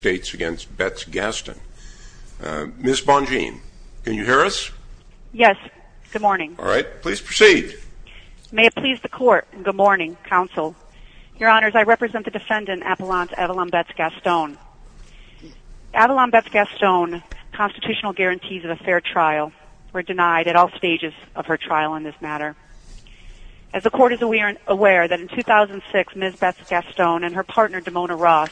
states against Betts-Gaston. Ms. Bonjean, can you hear us? Yes, good morning. All right, please proceed. May it please the court. Good morning, counsel. Your honors, I represent the defendant Avalon Betts-Gaston. Avalon Betts-Gaston's constitutional guarantees of a fair trial were denied at all stages of her trial in this matter. As the court is aware that in 2006, Ms. Betts-Gaston and her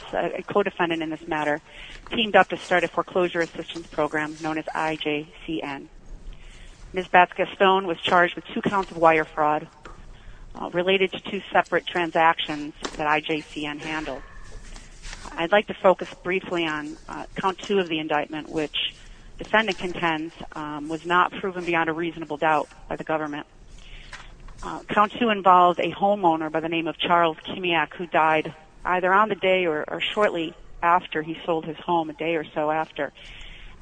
teamed up to start a foreclosure assistance program known as IJCN. Ms. Betts-Gaston was charged with two counts of wire fraud related to two separate transactions that IJCN handled. I'd like to focus briefly on count two of the indictment which the defendant contends was not proven beyond a reasonable doubt by the government. Count two involved a homeowner by the name of a day or so after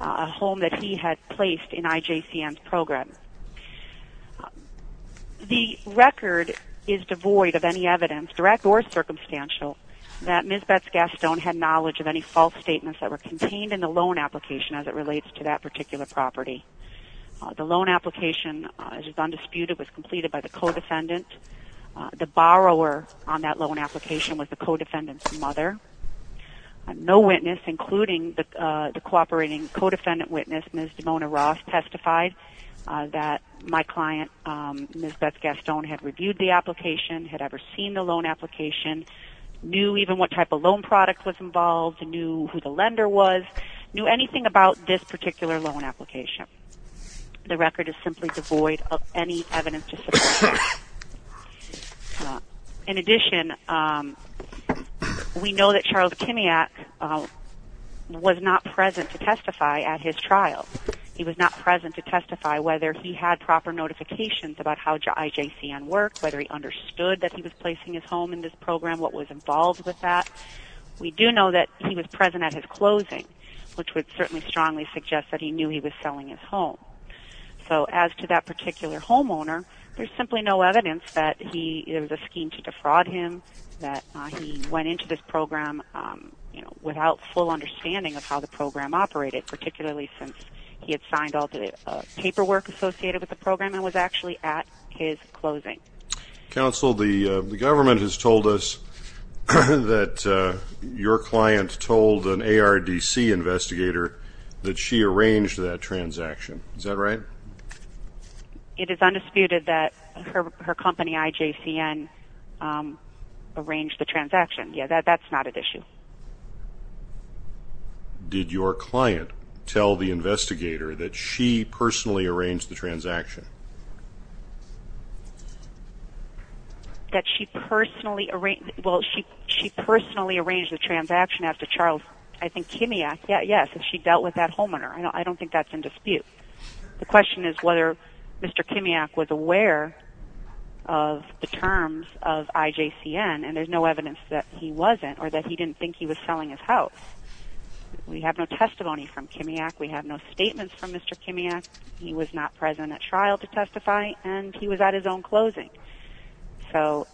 a home that he had placed in IJCN's program. The record is devoid of any evidence direct or circumstantial that Ms. Betts-Gaston had knowledge of any false statements that were contained in the loan application as it relates to that particular property. The loan application is undisputed was completed by the co-defendant. The borrower on that loan application was the co-defendant's mother. No witness including the cooperating co-defendant witness Ms. Dimona Ross testified that my client Ms. Betts-Gaston had reviewed the application, had ever seen the loan application, knew even what type of loan product was involved, knew who the lender was, knew anything about this particular loan application. The record is simply devoid of any evidence to support that. In addition, we know that Charles Kimiak was not present to testify at his trial. He was not present to testify whether he had proper notifications about how IJCN worked, whether he understood that he was placing his home in this program, what was involved with that. We do know that he was present at his closing which would certainly strongly suggest that he knew he was selling his home. So as to that particular homeowner, there's simply no evidence that he, it was a scheme to defraud him, that he went into this program without full understanding of how the program operated, particularly since he had signed all the paperwork associated with the program and was actually at his closing. Counsel, the government has told us that your client told an ARDC investigator that she arranged that transaction. Is that right? It is undisputed that her company IJCN arranged the transaction. Yeah, that's not an issue. Did your client tell the investigator that she personally arranged the transaction? That she personally arranged, well, she personally arranged the transaction after Charles, I think, Kimiak. Yeah, yeah. So she dealt with that homeowner. I don't think that's in dispute. The question is whether Mr. Kimiak was aware of the terms of IJCN and there's no evidence that he wasn't or that he didn't think he was selling his house. We have no testimony from Kimiak. We have no statements from Mr. Kimiak. He was not present at trial to testify and he was at his own closing. So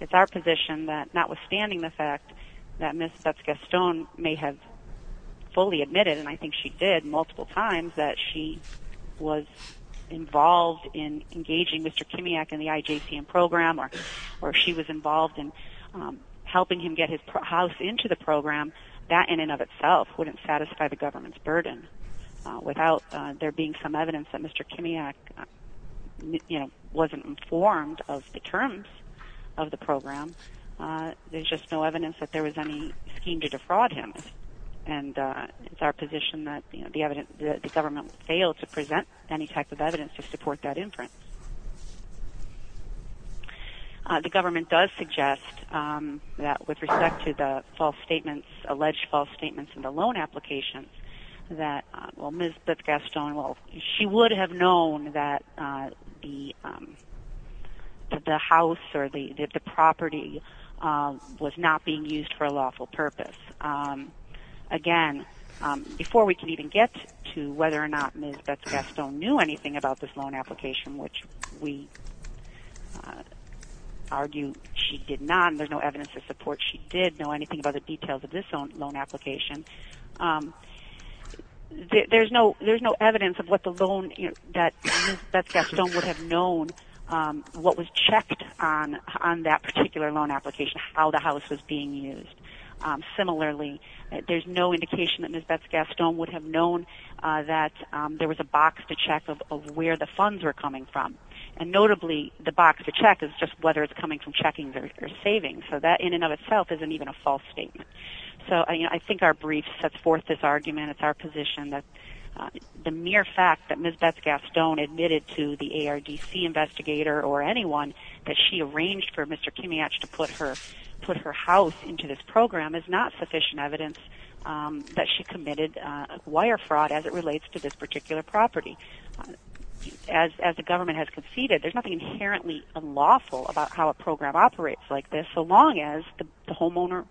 it's our position that notwithstanding the fact that Ms. Betz-Gaston may have fully admitted, and I think she did multiple times, that she was involved in engaging Mr. Kimiak in the IJCN program or she was involved in helping him get his house into the program, that in and of itself wouldn't satisfy the government's burden. Without there being some evidence that Mr. Kimiak wasn't informed of the terms of the program, there's just no evidence that there was any scheme to defraud him. And it's our position that the government failed to present any type of evidence to support that inference. The government does suggest that with respect to false statements, alleged false statements in the loan application, that Ms. Betz-Gaston, she would have known that the house or the property was not being used for a lawful purpose. Again, before we can even get to whether or not Ms. Betz-Gaston knew anything about this loan application, which we argue she did not, there's no evidence to support she did anything about the details of this loan application, there's no evidence that Ms. Betz-Gaston would have known what was checked on that particular loan application, how the house was being used. Similarly, there's no indication that Ms. Betz-Gaston would have known that there was a box to check of where the funds were coming from. And notably, the box to check is just whether it's coming from checkings or savings. So that in and of itself isn't even a false statement. So I think our brief sets forth this argument, it's our position that the mere fact that Ms. Betz-Gaston admitted to the ARDC investigator or anyone that she arranged for Mr. Kimiach to put her house into this program is not sufficient evidence that she committed wire fraud as it relates to this particular property. As the government has conceded, there's nothing inherently unlawful about how a program operates like this, so long as the homeowner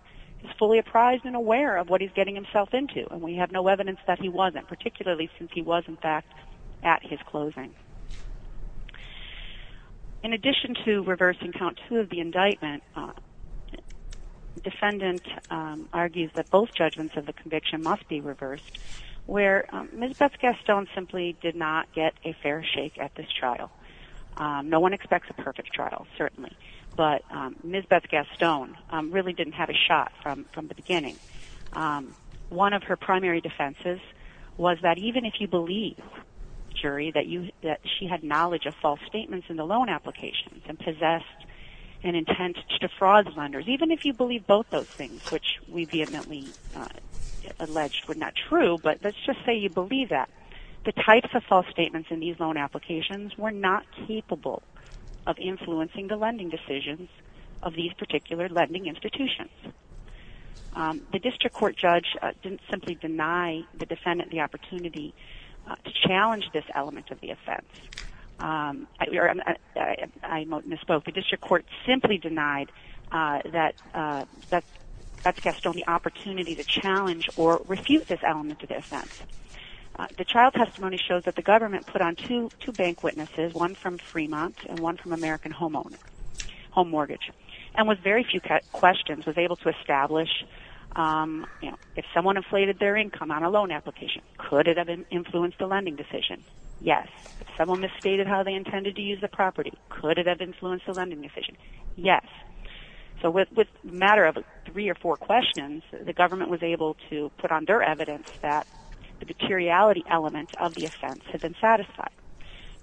is fully apprised and aware of what he's getting himself into. And we have no evidence that he wasn't, particularly since he was in fact at his closing. In addition to reversing count two of the indictment, defendant argues that both judgments of the conviction must be reversed, where Ms. Betz-Gaston simply did not get a fair shake at this trial. No one expects a perfect trial, certainly, but Ms. Betz-Gaston really didn't have a shot from the beginning. One of her primary defenses was that even if you believe, jury, that she had knowledge of false statements in the loan applications and possessed an intent to defraud lenders, even if you believe both those things, which we vehemently alleged were not true, but let's just say you believe that, the types of false statements in these loan applications were not capable of influencing the lending decisions of these particular lending institutions. The district court judge didn't simply deny the defendant the opportunity to challenge this or refute this element of the offense. The trial testimony shows that the government put on two bank witnesses, one from Fremont and one from American Home Mortgage, and with very few questions was able to establish if someone inflated their income on a loan application, could it have influenced the lending decision? Yes. If someone misstated how they intended to use the property, could it have influenced the lending decision? Yes. So with a matter of three or four questions, the government was able to put on their evidence that the materiality element of the offense had been satisfied.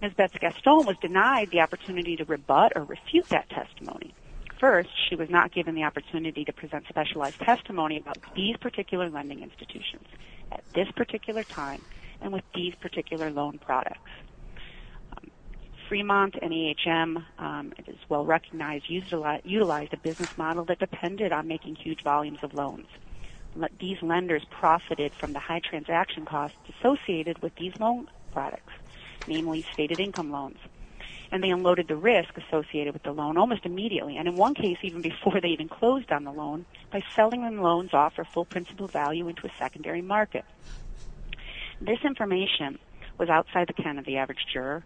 Ms. Betz-Gaston was denied the opportunity to rebut or refute that testimony. First, she was not given the opportunity to present specialized testimony about these particular lending institutions at this particular time and with these particular loan products. Fremont and EHM, it is well recognized, utilized a business model that depended on making huge volumes of loans. These lenders profited from the high transaction costs associated with these loan products, namely stated income loans, and they unloaded the risk associated with the loan almost immediately and in one case even before they even closed on the loan by selling them loans off for full principal value into a secondary market. This information was outside the canon of the average juror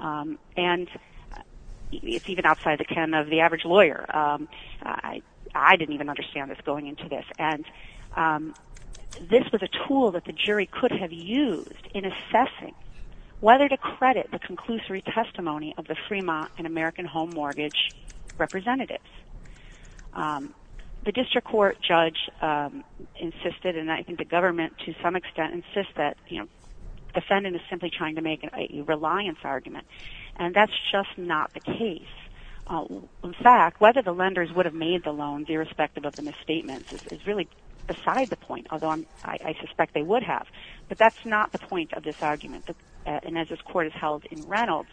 and it's even outside the canon of the average lawyer. I didn't even understand this going into this and this was a tool that the jury could have used in assessing whether to credit the conclusory testimony of the Fremont and American Home Mortgage representatives. The district court judge insisted and I think the government to some extent insist that, defendant is simply trying to make a reliance argument and that's just not the case. In fact, whether the lenders would have made the loans irrespective of the misstatements is really beside the point, although I suspect they would have, but that's not the point of this argument and as this court is held in Reynolds,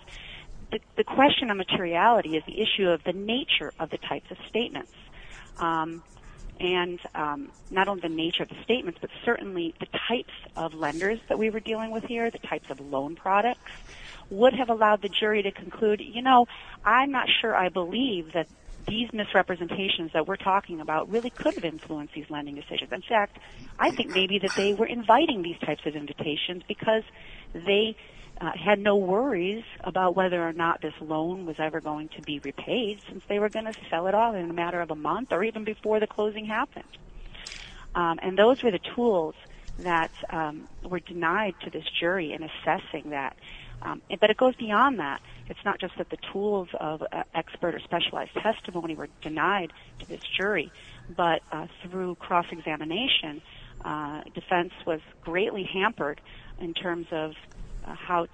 the question of materiality is the issue of the nature of the types of statements and not only the nature of the statements but certainly the types of lenders that we were dealing with here, the types of loan products, would have allowed the jury to conclude, you know, I'm not sure I believe that these misrepresentations that we're talking about really could have influenced these lending decisions. In fact, I think maybe that they were inviting these types of invitations because they had no worries about whether or not this loan was ever going to be repaid since they were going to sell it off in a matter of a month or even before the closing happened. And those were the tools that were denied to this jury in assessing that, but it goes beyond that. It's not just that the tools of expert or specialized testimony were denied to this jury, but through cross-examination, defense was greatly hampered in terms of how to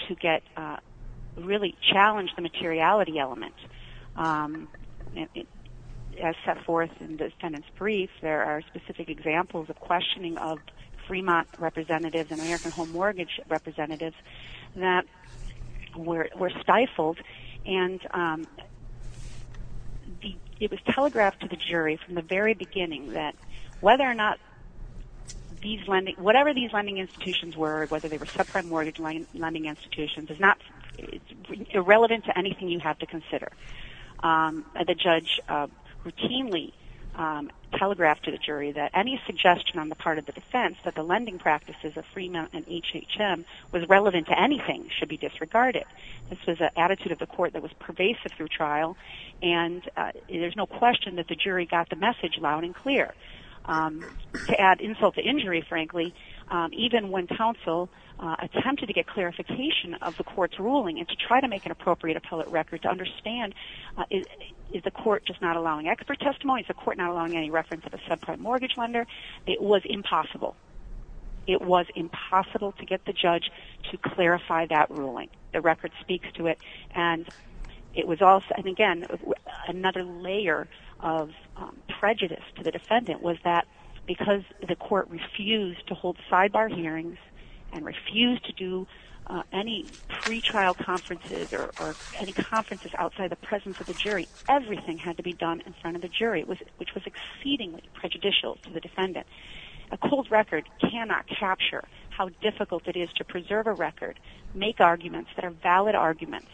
There are specific examples of questioning of Fremont representatives and American Home Mortgage representatives that were stifled and it was telegraphed to the jury from the very beginning that whether or not these lending, whatever these lending institutions were, whether they were subprime mortgage lending institutions, is not irrelevant to anything you have to consider. The judge routinely telegraphed to the jury that any suggestion on the part of the defense that the lending practices of Fremont and HHM was relevant to anything should be disregarded. This was an attitude of the court that was pervasive through trial and there's no question that the jury got the message loud and clear. To add insult to injury, frankly, even when counsel attempted to get clarification of the court's ruling and to try to make an appropriate appellate record to understand, is the court just not allowing expert testimony? Is the court not allowing any reference of a subprime mortgage lender? It was impossible. It was impossible to get the judge to clarify that ruling. The record speaks to it and it was also, and again, another layer of prejudice to the defendant was that because the court refused to hold sidebar hearings and refused to do any pre-trial conferences or any conferences outside the presence of the jury, everything had to be done in front of the jury, which was exceedingly prejudicial to the defendant. A cold record cannot capture how difficult it is to preserve a record, make arguments that are valid arguments,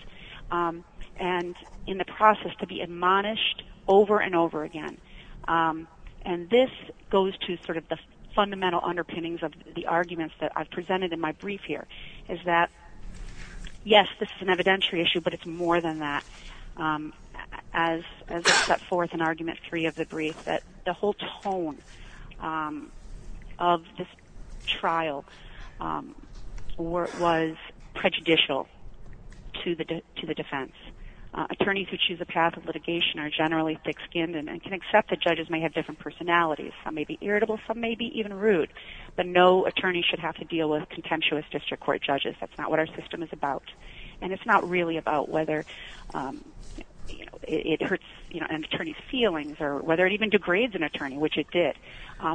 and in the process to be admonished over and over again. And this goes to sort of the fundamental underpinnings of the arguments that I've presented in my brief here, is that yes, this is an evidentiary issue, but it's more than that. As I set forth in argument three of the brief, that the whole tone of this trial was prejudicial to the defense. Attorneys who choose the path of litigation are generally thick-skinned and can accept that judges may have different personalities. Some may be irritable, some may be even rude, but no attorney should have to deal with contemptuous district court judges. That's not what our system is about. And it's not really about whether it hurts an attorney's feelings or whether it even degrades an attorney, which it did.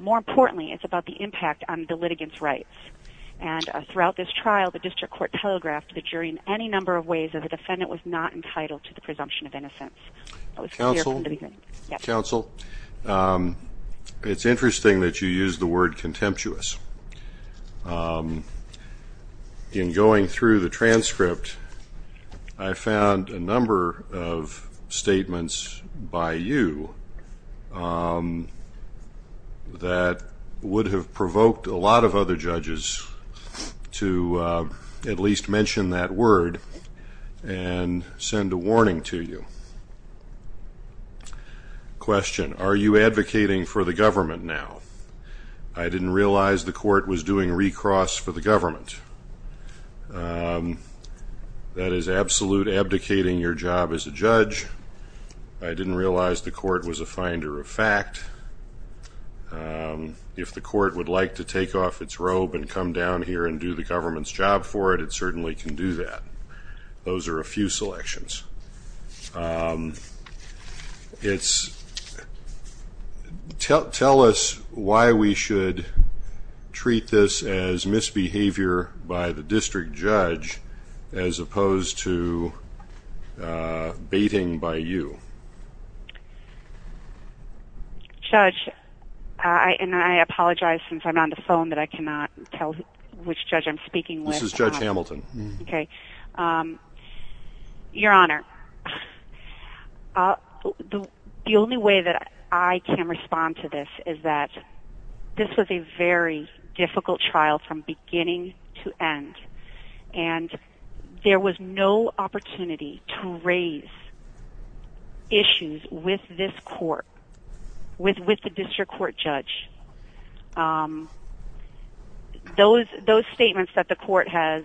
More importantly, it's about the impact on the litigant's rights. And throughout this trial, the district court telegraphed the jury in any number of ways that the defendant was not entitled to the counsel. It's interesting that you use the word contemptuous. In going through the transcript, I found a number of statements by you that would have provoked a lot of other judges to at least mention that word and send a warning to you. Question, are you advocating for the government now? I didn't realize the court was doing recross for the government. That is absolute abdicating your job as a judge. I didn't realize the court was a finder of fact. If the court would like to take off its robe and come down here and do the government's job for it, it certainly can do that. Those are a few selections. Tell us why we should treat this as misbehavior by the district judge as opposed to baiting by you. Judge, and I apologize since I'm on the phone that I cannot tell which judge I'm speaking with. Judge Hamilton. Your Honor, the only way that I can respond to this is that this was a very difficult trial from beginning to end. There was no opportunity to raise issues with this court, with the district court judge. Those statements that the court has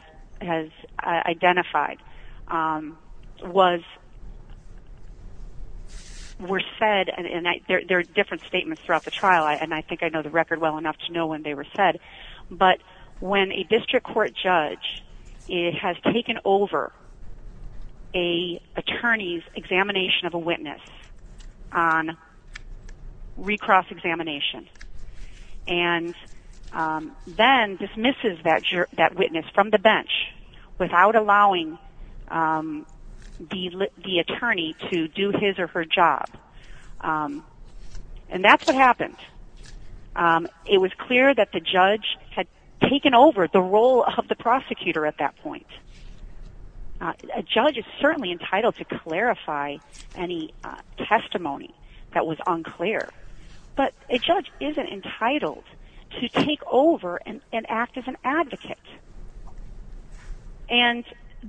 identified were said, and there are different statements throughout the trial, and I think I know the record well enough to know when they were said, but when a district court judge has taken over an attorney's examination of a witness on recross examination and then dismisses that witness from the bench without allowing the attorney to do his or her job, and that's what happened. It was clear that the judge had taken over the role of the prosecutor at that point. A judge is certainly entitled to clarify any testimony that was unclear, but a judge isn't entitled to take over and act as an advocate, and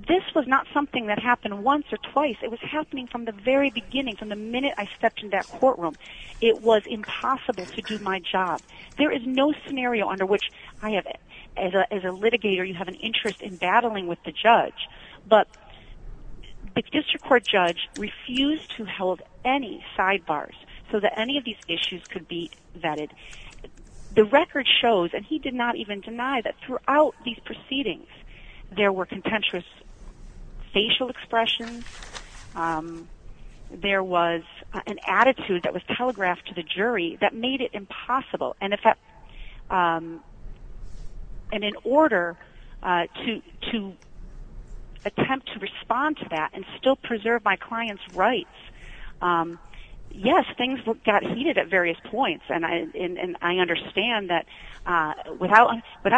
this was not something that happened once or twice. It was happening from the very beginning, from the minute I stepped in that courtroom. It was impossible to do my job. There is no scenario under which I have, as a litigator, you have an interest in battling with the judge, but the district court judge refused to hold any sidebars so that any of these issues could be vetted. The record shows, and he did not even deny, that throughout these proceedings there were contentious facial expressions. There was an attitude that was telegraphed to the jury that made it impossible, and in order to attempt to respond to that and still preserve my client's rights, yes, things got heated at various points, and I understand that without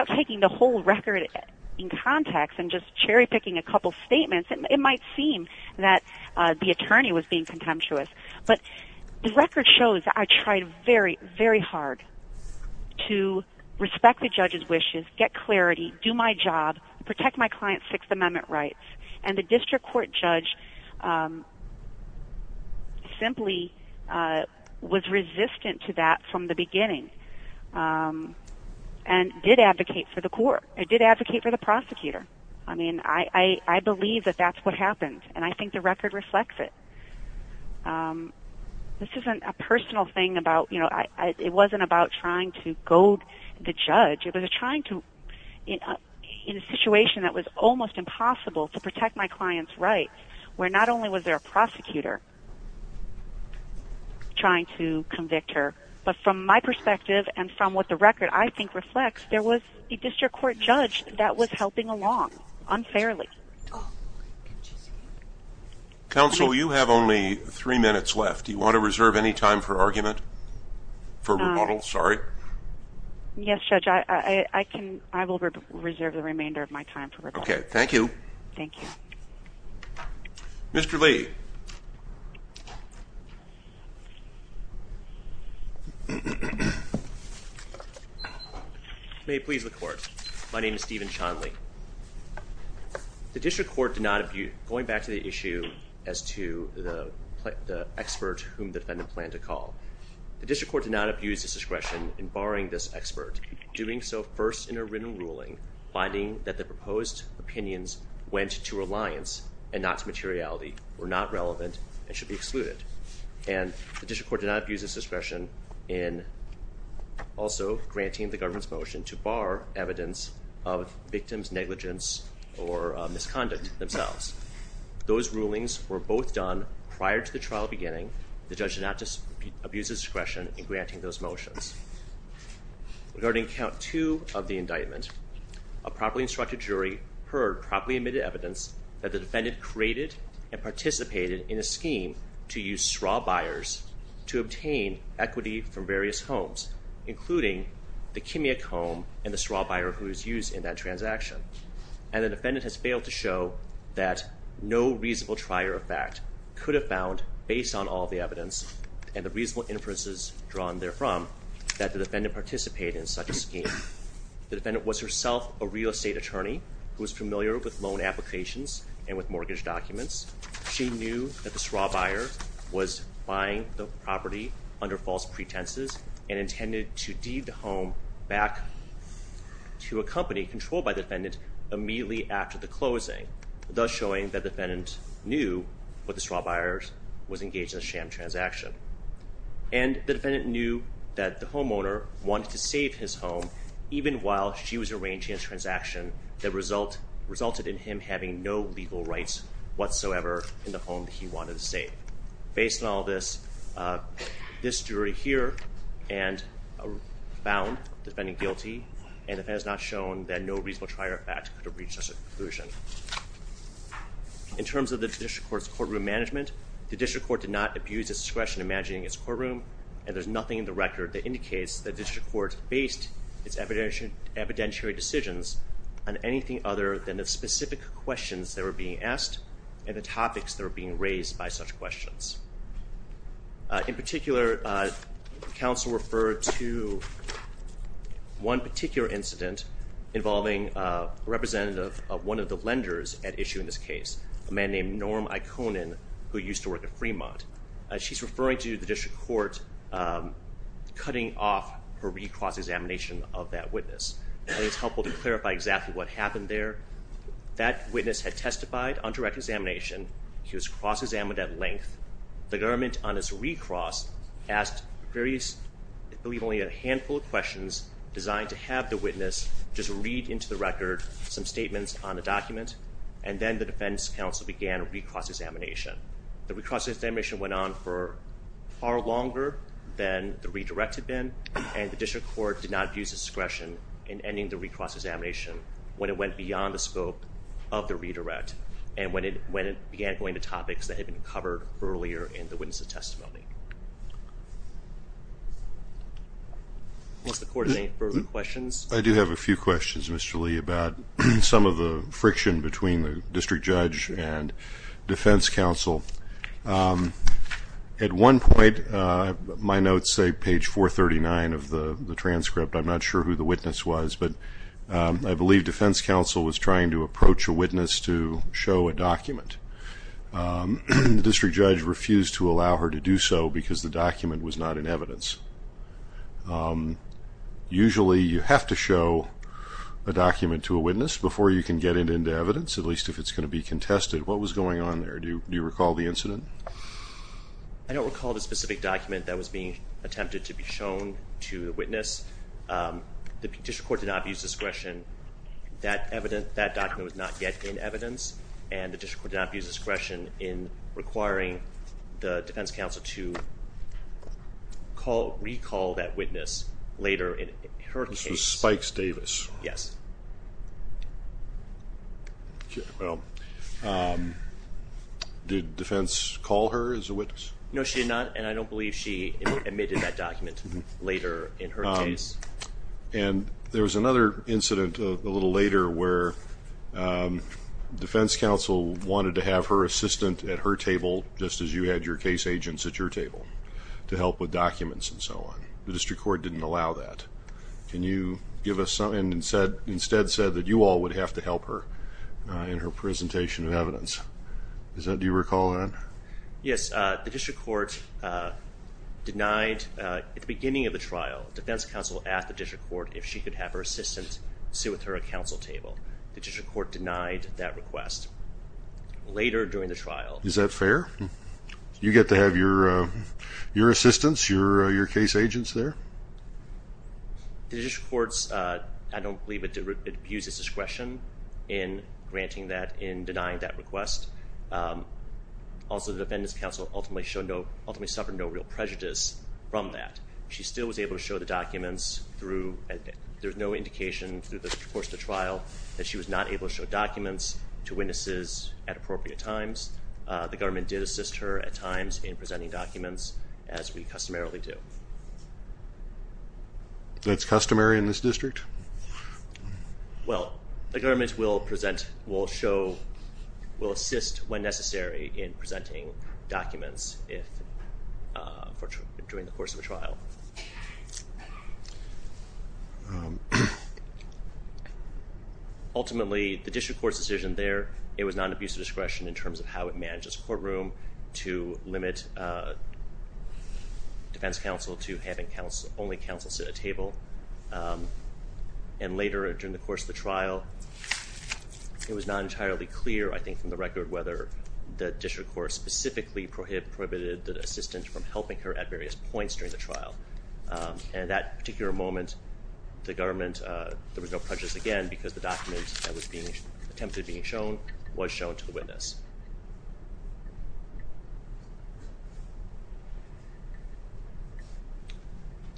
taking the whole record in context and just cherry-picking a couple statements, it might seem that the attorney was contemptuous, but the record shows that I tried very, very hard to respect the judge's wishes, get clarity, do my job, protect my client's Sixth Amendment rights, and the district court judge simply was resistant to that from the beginning and did advocate for the court. It did advocate for the prosecutor. I mean, I believe that that's what happened, and I think the record reflects it. This isn't a personal thing about, you know, it wasn't about trying to goad the judge. It was trying to, in a situation that was almost impossible to protect my client's rights, where not only was there a prosecutor trying to convict her, but from my perspective and from what the record, I think, reflects, there was a district court judge that was helping along unfairly. Counsel, you have only three minutes left. Do you want to reserve any time for argument, for rebuttal, sorry? Yes, Judge, I will reserve the remainder of my time for rebuttal. Okay, thank you. Thank you. Mr. Lee. Thank you. May it please the court, my name is Steven Chonley. The district court did not abuse, going back to the issue as to the expert whom the defendant planned to call, the district court did not abuse its discretion in barring this expert, doing so first in a written ruling, finding that the proposed opinions went to reliance and not to materiality, were not relevant and should be excluded. And the district court did not abuse its discretion in also granting the government's motion to bar evidence of victim's negligence or misconduct themselves. Those rulings were both done prior to the trial beginning. The judge did not abuse discretion in granting those motions. Regarding count two of the indictment, a properly instructed jury heard properly admitted evidence that the defendant created and participated in a scheme to use straw buyers to obtain equity from various homes, including the chemic home and the straw buyer who was used in that transaction. And the defendant has failed to show that no reasonable trier of fact could have found, based on all the evidence and the reasonable inferences drawn therefrom, that the defendant participated in such a scheme. The defendant was herself a real estate attorney who was familiar with loan applications and with mortgage documents. She knew that the straw buyer was buying the property under false pretenses and intended to deed the home back to a company controlled by the defendant immediately after the closing, thus showing that the defendant knew what the straw buyers was engaged in a sham transaction. And the defendant knew that the homeowner wanted to save his home even while she was arranging a transaction that resulted in him having no legal rights whatsoever in the home that he wanted to save. Based on all this, this jury here found the defendant guilty, and the defendant has not shown that no reasonable trier of fact could have reached such a conclusion. In terms of the District Court's courtroom management, the District Court did not abuse its discretion in managing its courtroom, and there's nothing in the record that indicates that the District Court based its evidentiary decisions on anything other than the specific questions that were being asked and the topics that were being raised by such questions. In particular, counsel referred to one particular incident involving a representative of one of the lenders at issue in this case, a man named Norm Iconin, who used to work in Fremont. She's referring to the District Court cutting off her recross examination of that witness. I think it's helpful to clarify exactly what happened there. That witness had testified on length. The government, on its recross, asked various, I believe only a handful of questions designed to have the witness just read into the record some statements on the document, and then the defense counsel began recross examination. The recross examination went on for far longer than the redirect had been, and the District Court did not abuse its discretion in ending the recross examination when it went beyond the scope of the redirect and when it began going to topics that had been covered earlier in the witness's testimony. Once the court has any further questions. I do have a few questions, Mr. Lee, about some of the friction between the district judge and defense counsel. At one point, my notes say page 439 of the transcript. I'm not sure who the witness was, but I believe defense counsel was trying to approach a witness to show a document. The district judge refused to allow her to do so because the document was not in evidence. Usually, you have to show a document to a witness before you can get it into evidence, at least if it's going to be contested. What was going on there? Do you recall the incident? I don't recall the specific document that was being attempted to be in evidence, and the District Court did not abuse discretion in requiring the defense counsel to recall that witness later in her case. This was Spikes Davis? Yes. Did defense call her as a witness? No, she did not, and I don't believe she admitted that document later in her case. There was another incident a little later where defense counsel wanted to have her assistant at her table, just as you had your case agents at your table, to help with documents and so on. The District Court didn't allow that. Can you give us something, and instead said that you all would have to help her in her presentation of evidence. Do you recall that? Yes, the District Court denied at the beginning of the trial, defense counsel asked the District Court if she could have her assistant sit with her at counsel table. The District Court denied that request later during the trial. Is that fair? You get to have your assistants, your case agents there? The District Court, I don't believe it abuses discretion in granting that, in denying that request. Also, the defendant's counsel ultimately suffered no real prejudice from that. She still able to show the documents through, there's no indication through the course of the trial that she was not able to show documents to witnesses at appropriate times. The government did assist her at times in presenting documents, as we customarily do. That's customary in this district? Well, the government will present, will show, will assist when necessary in presenting documents during the course of a trial. Ultimately, the District Court's decision there, it was not an abuse of discretion in terms of how it manages courtroom to limit defense counsel to having only counsel sit at table. And later, during the course of the trial, it was not entirely clear, I think, from the record whether the District Court specifically prohibited the assistant from helping her at various points during the trial. And that particular moment, the government, there was no prejudice again because the document that was being attempted being shown was shown to the witness.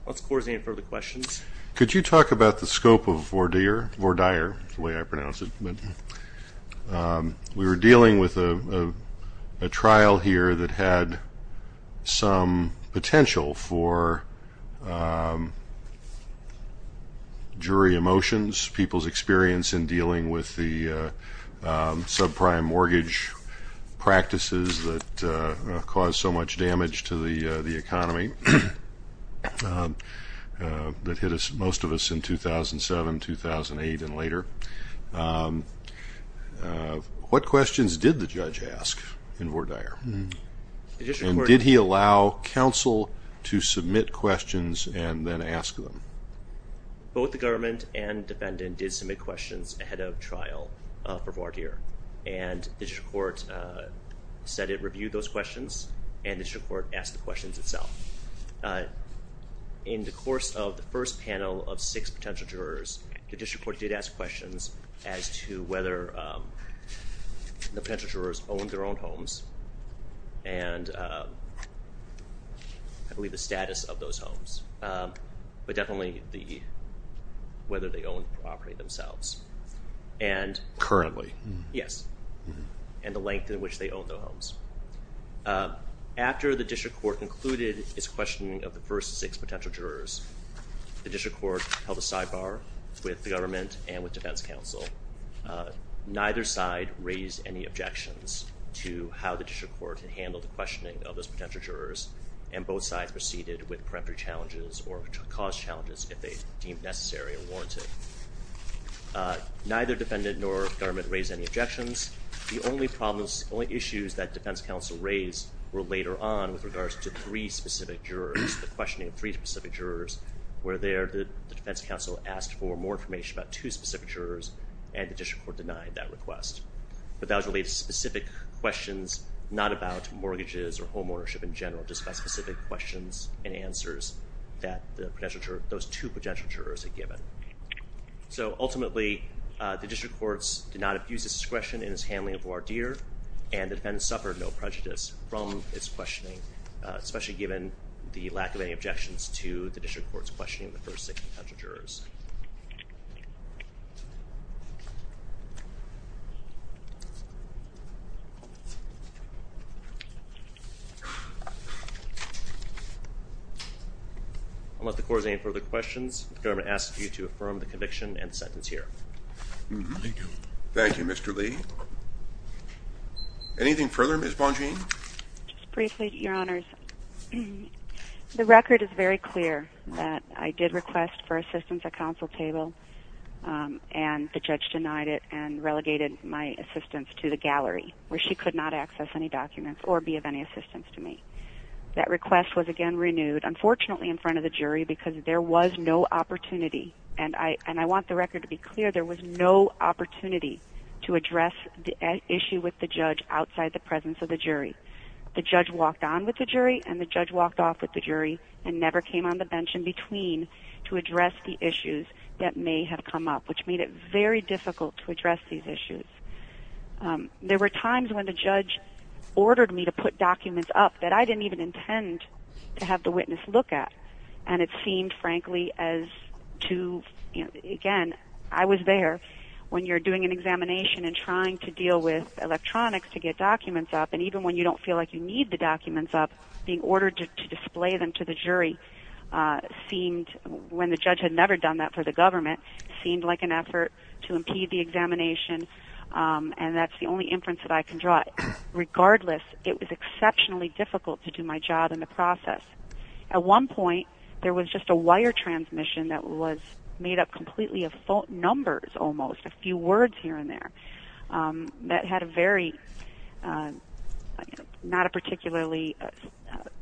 Let's, of course, any further questions? Could you talk about the scope of Vordier, the way I pronounce it? We were dealing with a trial here that had some potential for jury emotions, people's experience in dealing with the subprime mortgage practices that caused so much damage to the economy that hit us, most of us, in 2007, 2008, and later. What questions did the judge ask in Vordier? And did he allow counsel to submit questions and then ask them? Both the government and defendant did submit questions ahead of trial for Vordier. And the District Court said it reviewed those questions, and the District Court asked the questions itself. In the course of the first panel of six potential jurors, the District Court did ask questions as to whether the potential jurors owned their own homes and, I believe, the status of those homes, but definitely whether they owned the property themselves. Currently. Yes, and the length in which they own their homes. After the District Court concluded its questioning of the first six potential jurors, the District Court held a sidebar with the government and with defense counsel. Neither side raised any objections to how the District Court had handled the questioning of those potential jurors, and both sides proceeded with preemptory challenges or caused challenges if they deemed necessary or warranted. Neither defendant nor government raised any objections. The only problems, only issues that defense counsel raised were later on with regards to three specific jurors, the questioning of three specific jurors, where there the defense counsel asked for more information about two specific jurors, and the District Court denied that request. But that was related to specific questions, not about mortgages or home ownership in general, just about specific questions and answers that the potential jurors, those two potential jurors had and the defendants suffered no prejudice from its questioning, especially given the lack of any objections to the District Court's questioning of the first six potential jurors. Unless the court has any further questions, the government asks you to affirm the conviction and the verdict. Anything further, Ms. Bongean? Just briefly, Your Honors. The record is very clear that I did request for assistance at counsel table and the judge denied it and relegated my assistance to the gallery where she could not access any documents or be of any assistance to me. That request was again renewed, unfortunately, in front of the jury because there was no opportunity, and I want the record to be issued with the judge outside the presence of the jury. The judge walked on with the jury and the judge walked off with the jury and never came on the bench in between to address the issues that may have come up, which made it very difficult to address these issues. There were times when the judge ordered me to put documents up that I didn't even intend to have the witness look at, and it seemed frankly as to, you know, again, I was there when you're doing an examination and trying to deal with electronics to get documents up, and even when you don't feel like you need the documents up, being ordered to display them to the jury seemed, when the judge had never done that for the government, seemed like an effort to impede the examination, and that's the only inference that I can draw. Regardless, it was exceptionally difficult to do my job in the process. At one point, there was just a wire transmission that was made up completely of numbers almost, a few words here and there, that had a very, not a particularly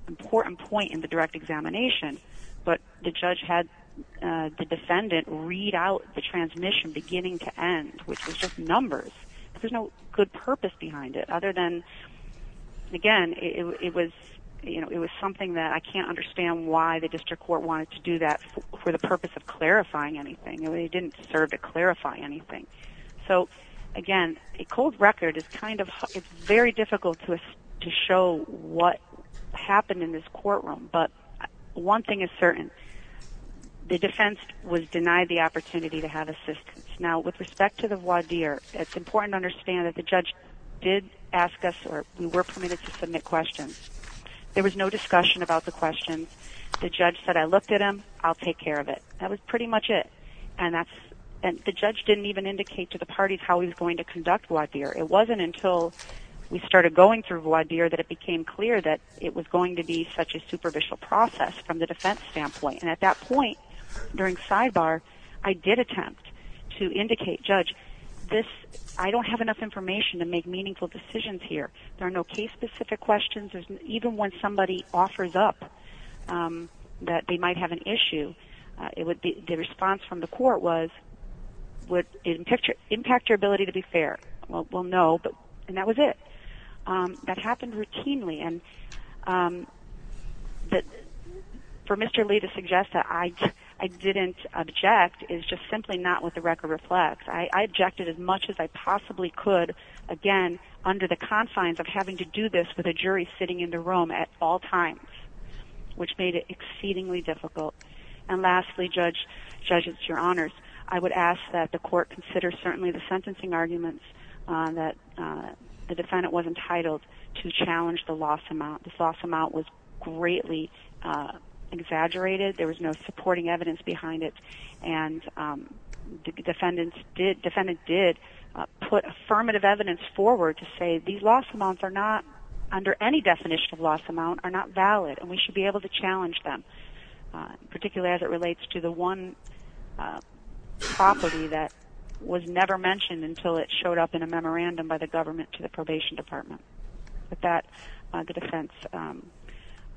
important point in the direct examination, but the judge had the defendant read out the transmission beginning to end, which was just numbers. There's no good purpose behind it other than, again, it was, you know, it was something that the district court wanted to do that for the purpose of clarifying anything. It didn't serve to clarify anything. So, again, a cold record is kind of, it's very difficult to show what happened in this courtroom, but one thing is certain. The defense was denied the opportunity to have assistance. Now, with respect to the voir dire, it's important to understand that the judge did ask us, or we were permitted to submit questions. There was no discussion about the questions. The judge said, I looked at him. I'll take care of it. That was pretty much it, and that's, and the judge didn't even indicate to the parties how he was going to conduct voir dire. It wasn't until we started going through voir dire that it became clear that it was going to be such a superficial process from the defense standpoint, and at that point during sidebar, I did attempt to indicate, Judge, this, I don't have enough information to make meaningful decisions here. There are no case-specific questions. Even when somebody offers up that they might have an issue, it would be, the response from the court was, would it impact your ability to be fair? Well, no, but, and that was it. That happened routinely, and for Mr. Lee to suggest that I didn't object is just simply not what the record reflects. I had to do this with a jury sitting in the room at all times, which made it exceedingly difficult, and lastly, Judge, it's your honors, I would ask that the court consider certainly the sentencing arguments that the defendant was entitled to challenge the loss amount. The loss amount was greatly exaggerated. There was no supporting evidence behind it, and the defendant did put affirmative evidence forward to say these loss amounts are not, under any definition of loss amount, are not valid, and we should be able to challenge them, particularly as it relates to the one property that was never mentioned until it showed up in a memorandum by the government to the probation department. With that, the defense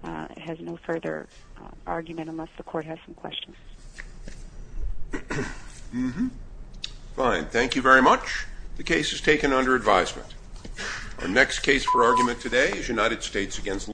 has no further argument unless the court has some under advisement. Our next case for argument today is United States against